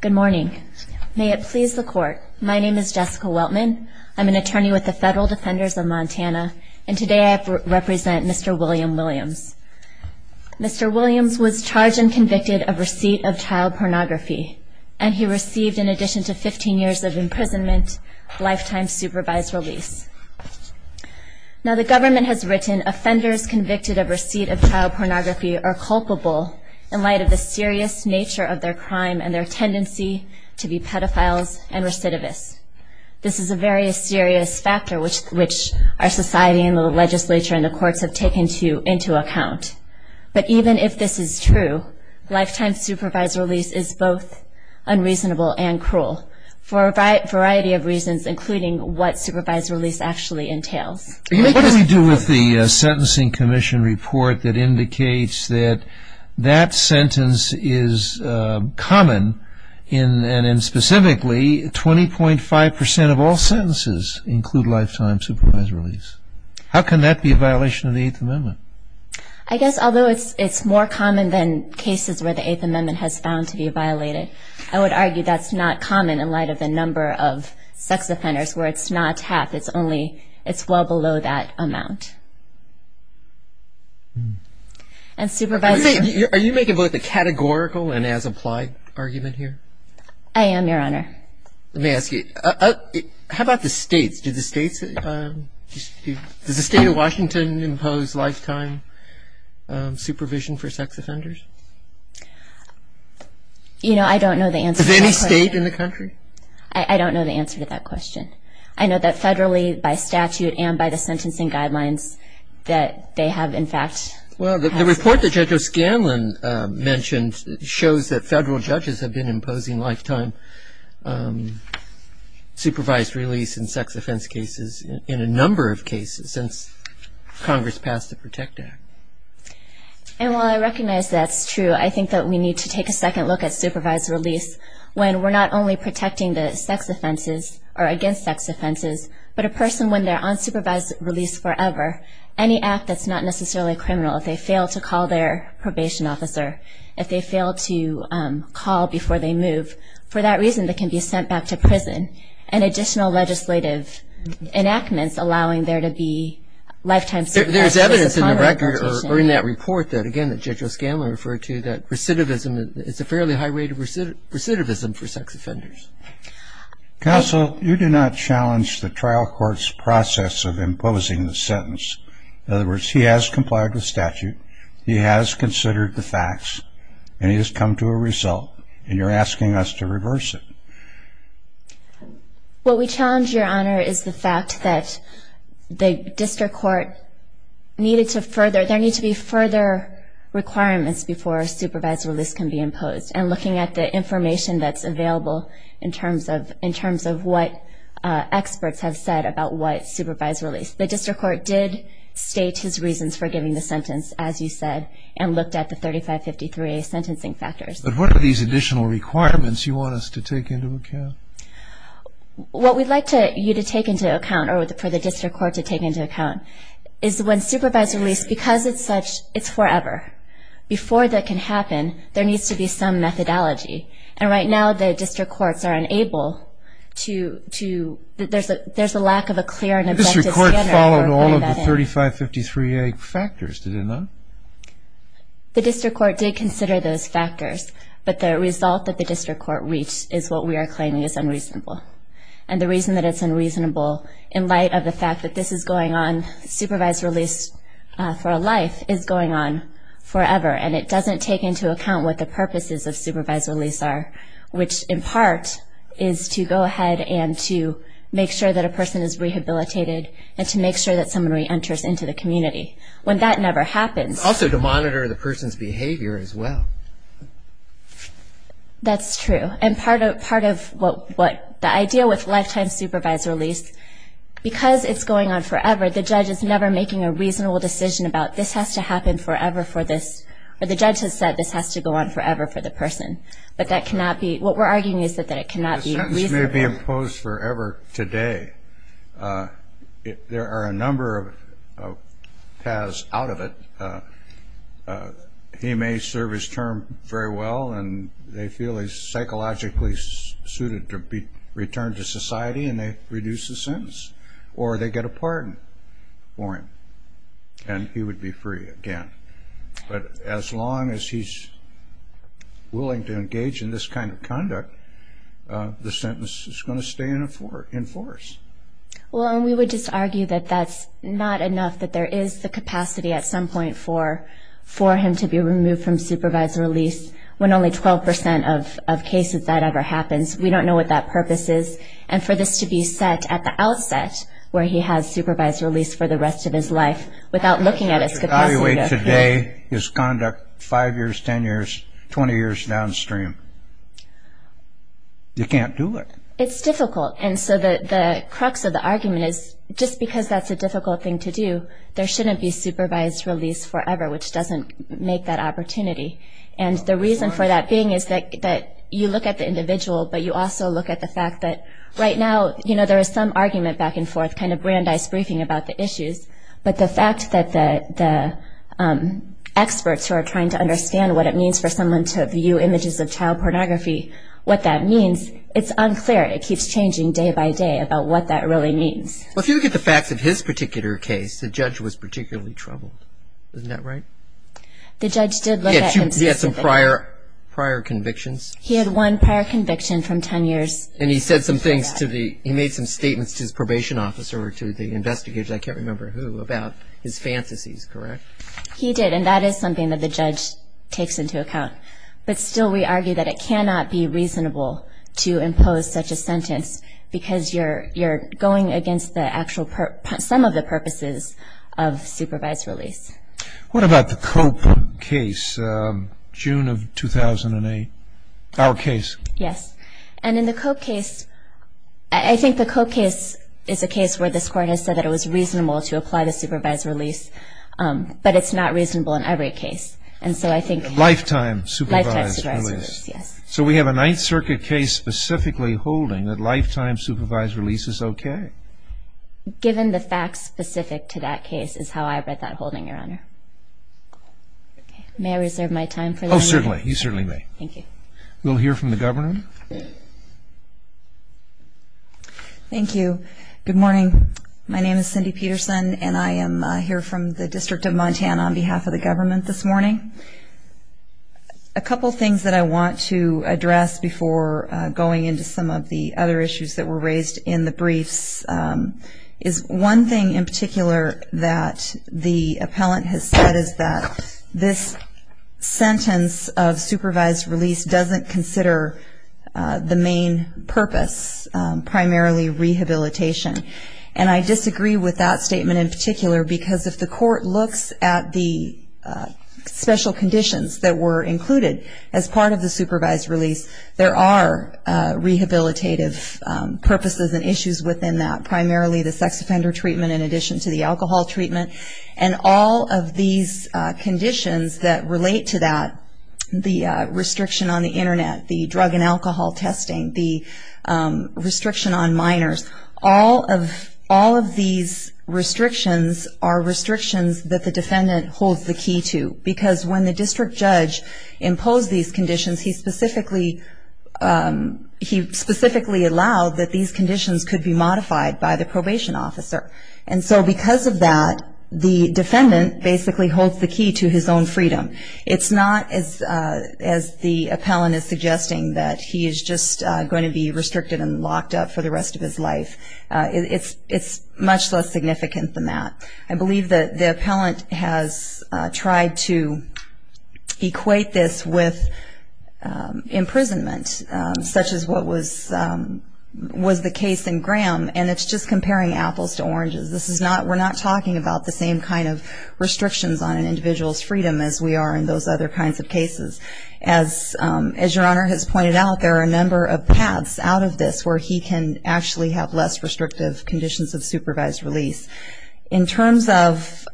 Good morning. May it please the court. My name is Jessica Weltman. I'm an attorney with the Federal Defenders of Montana, and today I represent Mr. William Williams. Mr. Williams was charged and convicted of receipt of child pornography, and he received, in addition to 15 years of imprisonment, lifetime supervised release. Now, the government has written offenders convicted of receipt of child pornography are culpable in light of the serious nature of their crime and their tendency to be pedophiles and recidivists. This is a very serious factor which our society and the legislature and the courts have taken into account. But even if this is true, lifetime supervised release is both unreasonable and cruel, for a variety of reasons, including what supervised release actually entails. What do we do with the Sentencing Commission report that indicates that that sentence is common, and specifically, 20.5% of all sentences include lifetime supervised release? How can that be a violation of the Eighth Amendment? I guess, although it's more common than cases where the Eighth Amendment has found to be violated, I would argue that's not common in light of the number of sex offenders where it's not half, it's only, it's well below that amount. Are you making both a categorical and as applied argument here? I am, Your Honor. Let me ask you, how about the states? Do the states, does the state of Washington impose lifetime supervision for sex offenders? You know, I don't know the answer to that question. Is there any state in the country? I don't know the answer to that question. I know that federally, by statute, and by the sentencing guidelines that they have, in fact, Well, the report that Judge O'Scanlan mentioned shows that federal judges have been imposing lifetime supervised release in sex offense cases in a number of cases since Congress passed the PROTECT Act. And while I recognize that's true, I think that we need to take a second look at supervised release when we're not only protecting the sex offenses or against sex offenses, but a person when they're on supervised release forever, any act that's not necessarily criminal, if they fail to call their probation officer, if they fail to call before they move, for that reason they can be sent back to prison. And additional legislative enactments allowing there to be lifetime supervision. There's evidence in the record or in that report that, again, that Judge O'Scanlan referred to, that recidivism, it's a fairly high rate of recidivism for sex offenders. Counsel, you do not challenge the trial court's process of imposing the sentence. In other words, he has complied with statute, he has considered the facts, and he has come to a result, and you're asking us to reverse it. What we challenge, Your Honor, is the fact that the district court needed to further, there need to be further requirements before a supervised release can be imposed, and looking at the information that's available in terms of what experts have said about what supervised release. The district court did state his reasons for giving the sentence, as you said, and looked at the 3553A sentencing factors. But what are these additional requirements you want us to take into account? What we'd like you to take into account, or for the district court to take into account, is when supervised release, because it's such, it's forever. Before that can happen, there needs to be some methodology. And right now, the district courts are unable to, there's a lack of a clear and objective standard. The district court followed all of the 3553A factors, did it not? The district court did consider those factors, but the result that the district court reached is what we are claiming is unreasonable. And the reason that it's unreasonable, in light of the fact that this is going on, supervised release for a life, is going on forever, and it doesn't take into account what the purposes of supervised release are, which, in part, is to go ahead and to make sure that a person is rehabilitated and to make sure that someone reenters into the community. When that never happens. Also to monitor the person's behavior as well. That's true. And part of what the idea with lifetime supervised release, because it's going on forever, the judge is never making a reasonable decision about this has to happen forever for this, or the judge has said this has to go on forever for the person. But that cannot be, what we're arguing is that it cannot be reasonable. The sentence may be imposed forever today. There are a number of paths out of it. He may serve his term very well, and they feel he's psychologically suited to be returned to society, and they reduce the sentence. Or they get a pardon for him, and he would be free again. But as long as he's willing to engage in this kind of conduct, the sentence is going to stay in force. Well, and we would just argue that that's not enough, that there is the capacity at some point for him to be removed from supervised release when only 12% of cases that ever happens. We don't know what that purpose is. And for this to be set at the outset, where he has supervised release for the rest of his life, without looking at his capacity to appeal. To evaluate today is conduct 5 years, 10 years, 20 years downstream. You can't do it. It's difficult. And so the crux of the argument is just because that's a difficult thing to do, there shouldn't be supervised release forever, which doesn't make that opportunity. And the reason for that being is that you look at the individual, but you also look at the fact that right now, you know, But the fact that the experts who are trying to understand what it means for someone to view images of child pornography, what that means, it's unclear. It keeps changing day by day about what that really means. Well, if you look at the facts of his particular case, the judge was particularly troubled. Isn't that right? The judge did look at him specifically. He had some prior convictions. He had one prior conviction from 10 years. And he said some things to the – he made some statements to his probation officer or to the investigators, I can't remember who, about his fantasies, correct? He did. And that is something that the judge takes into account. But still we argue that it cannot be reasonable to impose such a sentence because you're going against the actual – some of the purposes of supervised release. What about the Cope case, June of 2008, our case? Yes. And in the Cope case, I think the Cope case is a case where this court has said that it was reasonable to apply the supervised release, but it's not reasonable in every case. And so I think – Lifetime supervised release. Lifetime supervised release, yes. So we have a Ninth Circuit case specifically holding that lifetime supervised release is okay. Given the facts specific to that case is how I read that holding, Your Honor. May I reserve my time for later? Oh, certainly. You certainly may. Thank you. We'll hear from the governor. Thank you. Good morning. My name is Cindy Peterson, and I am here from the District of Montana on behalf of the government this morning. A couple of things that I want to address before going into some of the other issues that were raised in the briefs is one thing in particular that the appellant has said is that this sentence of supervised release doesn't consider the main purpose, primarily rehabilitation. And I disagree with that statement in particular because if the court looks at the special conditions that were included as part of the supervised release, there are rehabilitative purposes and issues within that, primarily the sex offender treatment in addition to the alcohol treatment. And all of these conditions that relate to that, the restriction on the Internet, the drug and alcohol testing, the restriction on minors, all of these restrictions are restrictions that the defendant holds the key to. Because when the district judge imposed these conditions, he specifically allowed that these conditions could be modified by the probation officer. And so because of that, the defendant basically holds the key to his own freedom. It's not, as the appellant is suggesting, that he is just going to be restricted and locked up for the rest of his life. It's much less significant than that. I believe that the appellant has tried to equate this with imprisonment, such as what was the case in Graham, and it's just comparing apples to oranges. We're not talking about the same kind of restrictions on an individual's freedom as we are in those other kinds of cases. As Your Honor has pointed out, there are a number of paths out of this where he can actually have less restrictive conditions of supervised release. In terms of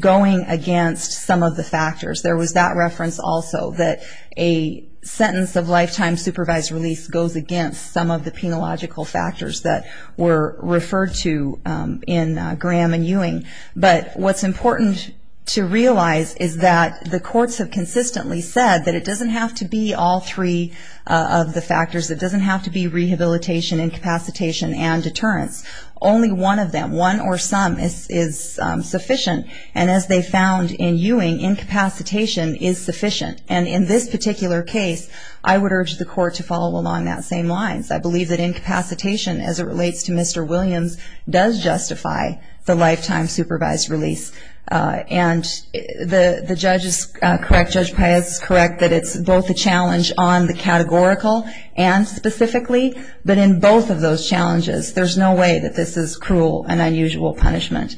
going against some of the factors, there was that reference also that a sentence of lifetime supervised release goes against some of the penological factors that were referred to in Graham and Ewing. But what's important to realize is that the courts have consistently said that it doesn't have to be all three of the factors. It doesn't have to be rehabilitation, incapacitation, and deterrence. Only one of them, one or some, is sufficient. And as they found in Ewing, incapacitation is sufficient. And in this particular case, I would urge the court to follow along that same lines. I believe that incapacitation, as it relates to Mr. Williams, does justify the lifetime supervised release. And the judge is correct, Judge Paez is correct, that it's both a challenge on the categorical and specifically, but in both of those challenges there's no way that this is cruel and unusual punishment.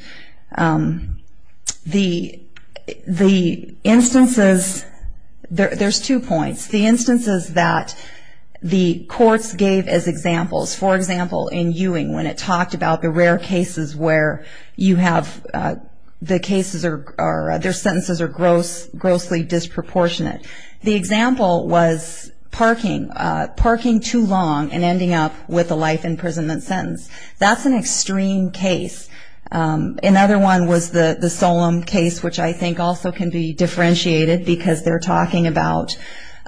The instances, there's two points. The instances that the courts gave as examples, for example, in Ewing, when it talked about the rare cases where you have the cases, their sentences are grossly disproportionate. The example was parking, parking too long and ending up with a life imprisonment sentence. That's an extreme case. Another one was the Solemn case, which I think also can be differentiated, because they're talking about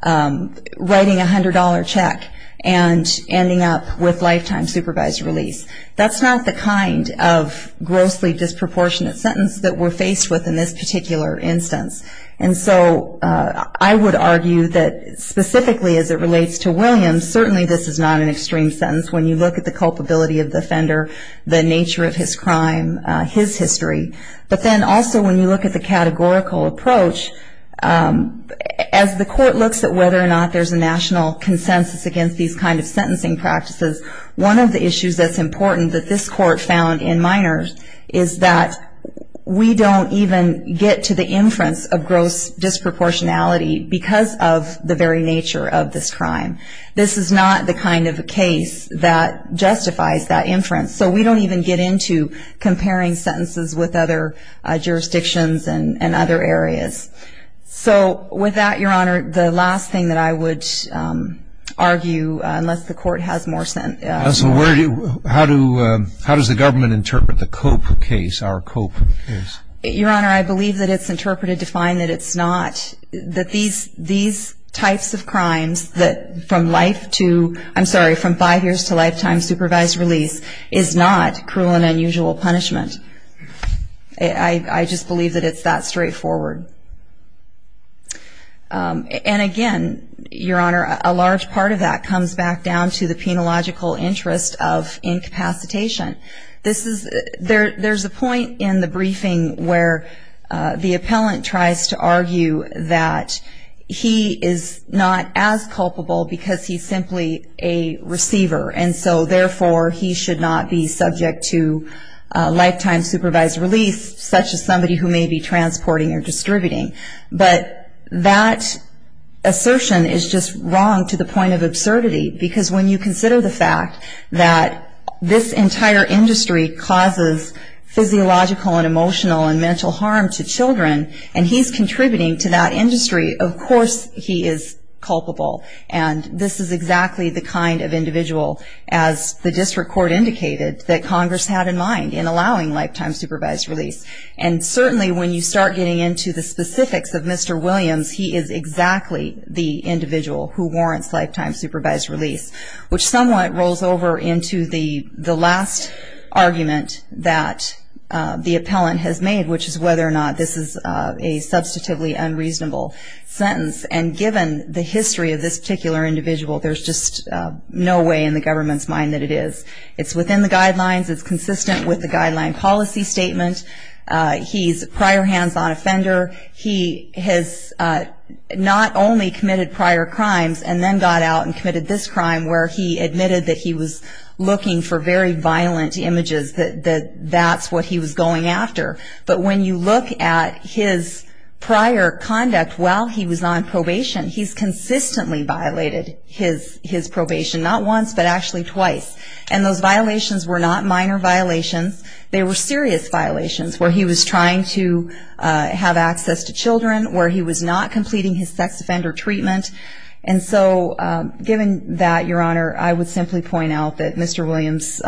writing a $100 check and ending up with lifetime supervised release. That's not the kind of grossly disproportionate sentence that we're faced with in this particular instance. And so I would argue that specifically as it relates to Williams, certainly this is not an extreme sentence when you look at the culpability of the offender, the nature of his crime, his history. But then also when you look at the categorical approach, as the court looks at whether or not there's a national consensus against these kind of sentencing practices, one of the issues that's important that this court found in Miners is that we don't even get to the inference of gross disproportionality because of the very nature of this crime. This is not the kind of case that justifies that inference. So we don't even get into comparing sentences with other jurisdictions and other areas. So with that, Your Honor, the last thing that I would argue, unless the court has more sentences. How does the government interpret the Cope case, our Cope case? Your Honor, I believe that it's interpreted to find that it's not, that these types of crimes that from life to, I'm sorry, from five years to lifetime supervised release is not cruel and unusual punishment. I just believe that it's that straightforward. And again, Your Honor, a large part of that comes back down to the penological interest of incapacitation. There's a point in the briefing where the appellant tries to argue that he is not as culpable because he's simply a receiver, and so therefore he should not be subject to lifetime supervised release, such as somebody who may be transporting or distributing. But that assertion is just wrong to the point of absurdity because when you consider the fact that this entire industry causes physiological and emotional and mental harm to children, and he's contributing to that industry, of course he is culpable. And this is exactly the kind of individual, as the district court indicated, that Congress had in mind in allowing lifetime supervised release. And certainly when you start getting into the specifics of Mr. Williams, he is exactly the individual who warrants lifetime supervised release, which somewhat rolls over into the last argument that the appellant has made, which is whether or not this is a substantively unreasonable sentence. And given the history of this particular individual, there's just no way in the government's mind that it is. It's within the guidelines. It's consistent with the guideline policy statement. He's a prior hands-on offender. He has not only committed prior crimes and then got out and committed this crime where he admitted that he was looking for very violent images, that that's what he was going after. But when you look at his prior conduct while he was on probation, he's consistently violated his probation, not once but actually twice. And those violations were not minor violations. They were serious violations where he was trying to have access to children, where he was not completing his sex offender treatment. And so given that, Your Honor, I would simply point out that Mr. Williams'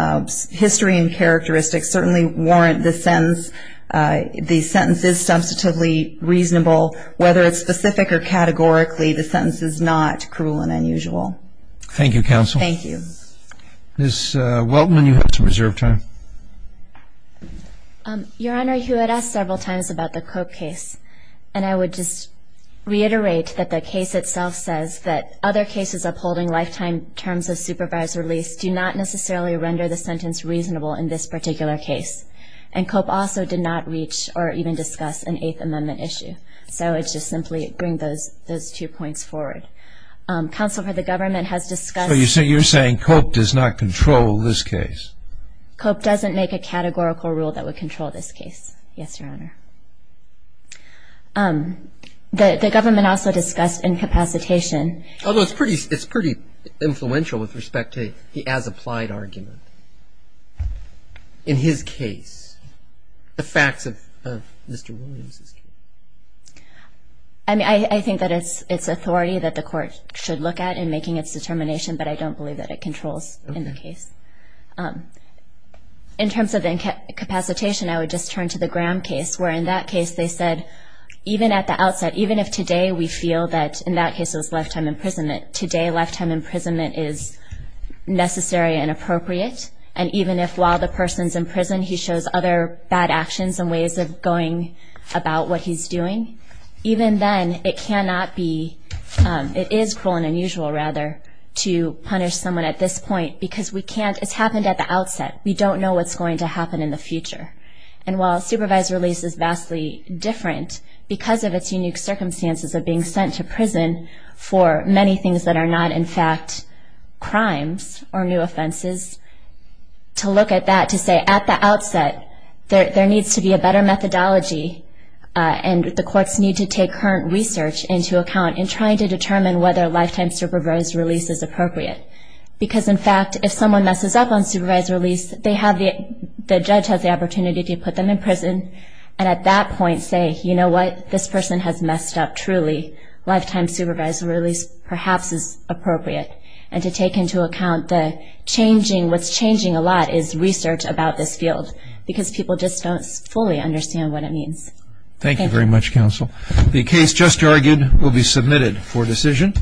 history and characteristics certainly warrant the sentence is substantively reasonable, whether it's specific or categorically, the sentence is not cruel and unusual. Thank you, Counsel. Thank you. Ms. Weltman, you have some reserved time. Your Honor, you had asked several times about the Cope case, and I would just reiterate that the case itself says that other cases upholding lifetime terms of supervised release do not necessarily render the sentence reasonable in this particular case. And Cope also did not reach or even discuss an Eighth Amendment issue. So I would just simply bring those two points forward. Counsel, the government has discussed So you're saying Cope does not control this case. Cope doesn't make a categorical rule that would control this case. Yes, Your Honor. The government also discussed incapacitation. Although it's pretty influential with respect to the as-applied argument. In his case, the facts of Mr. Williams' case. I mean, I think that it's authority that the court should look at in making its determination, but I don't believe that it controls in the case. In terms of incapacitation, I would just turn to the Graham case, where in that case they said, even at the outset, even if today we feel that in that case it was lifetime imprisonment, today lifetime imprisonment is necessary and appropriate. And even if while the person's in prison, he shows other bad actions and ways of going about what he's doing, even then it cannot be, it is cruel and unusual, rather, to punish someone at this point because we can't, it's happened at the outset. We don't know what's going to happen in the future. And while supervised release is vastly different, because of its unique circumstances of being sent to prison for many things that are not, in fact, crimes or new offenses, to look at that to say at the outset there needs to be a better methodology and the courts need to take current research into account in trying to determine whether lifetime supervised release is appropriate. Because, in fact, if someone messes up on supervised release, they have the, the judge has the opportunity to put them in prison and at that point say, you know what, this person has messed up truly. Lifetime supervised release perhaps is appropriate. And to take into account the changing, what's changing a lot is research about this field because people just don't fully understand what it means. Thank you very much, counsel. The case just argued will be submitted for decision.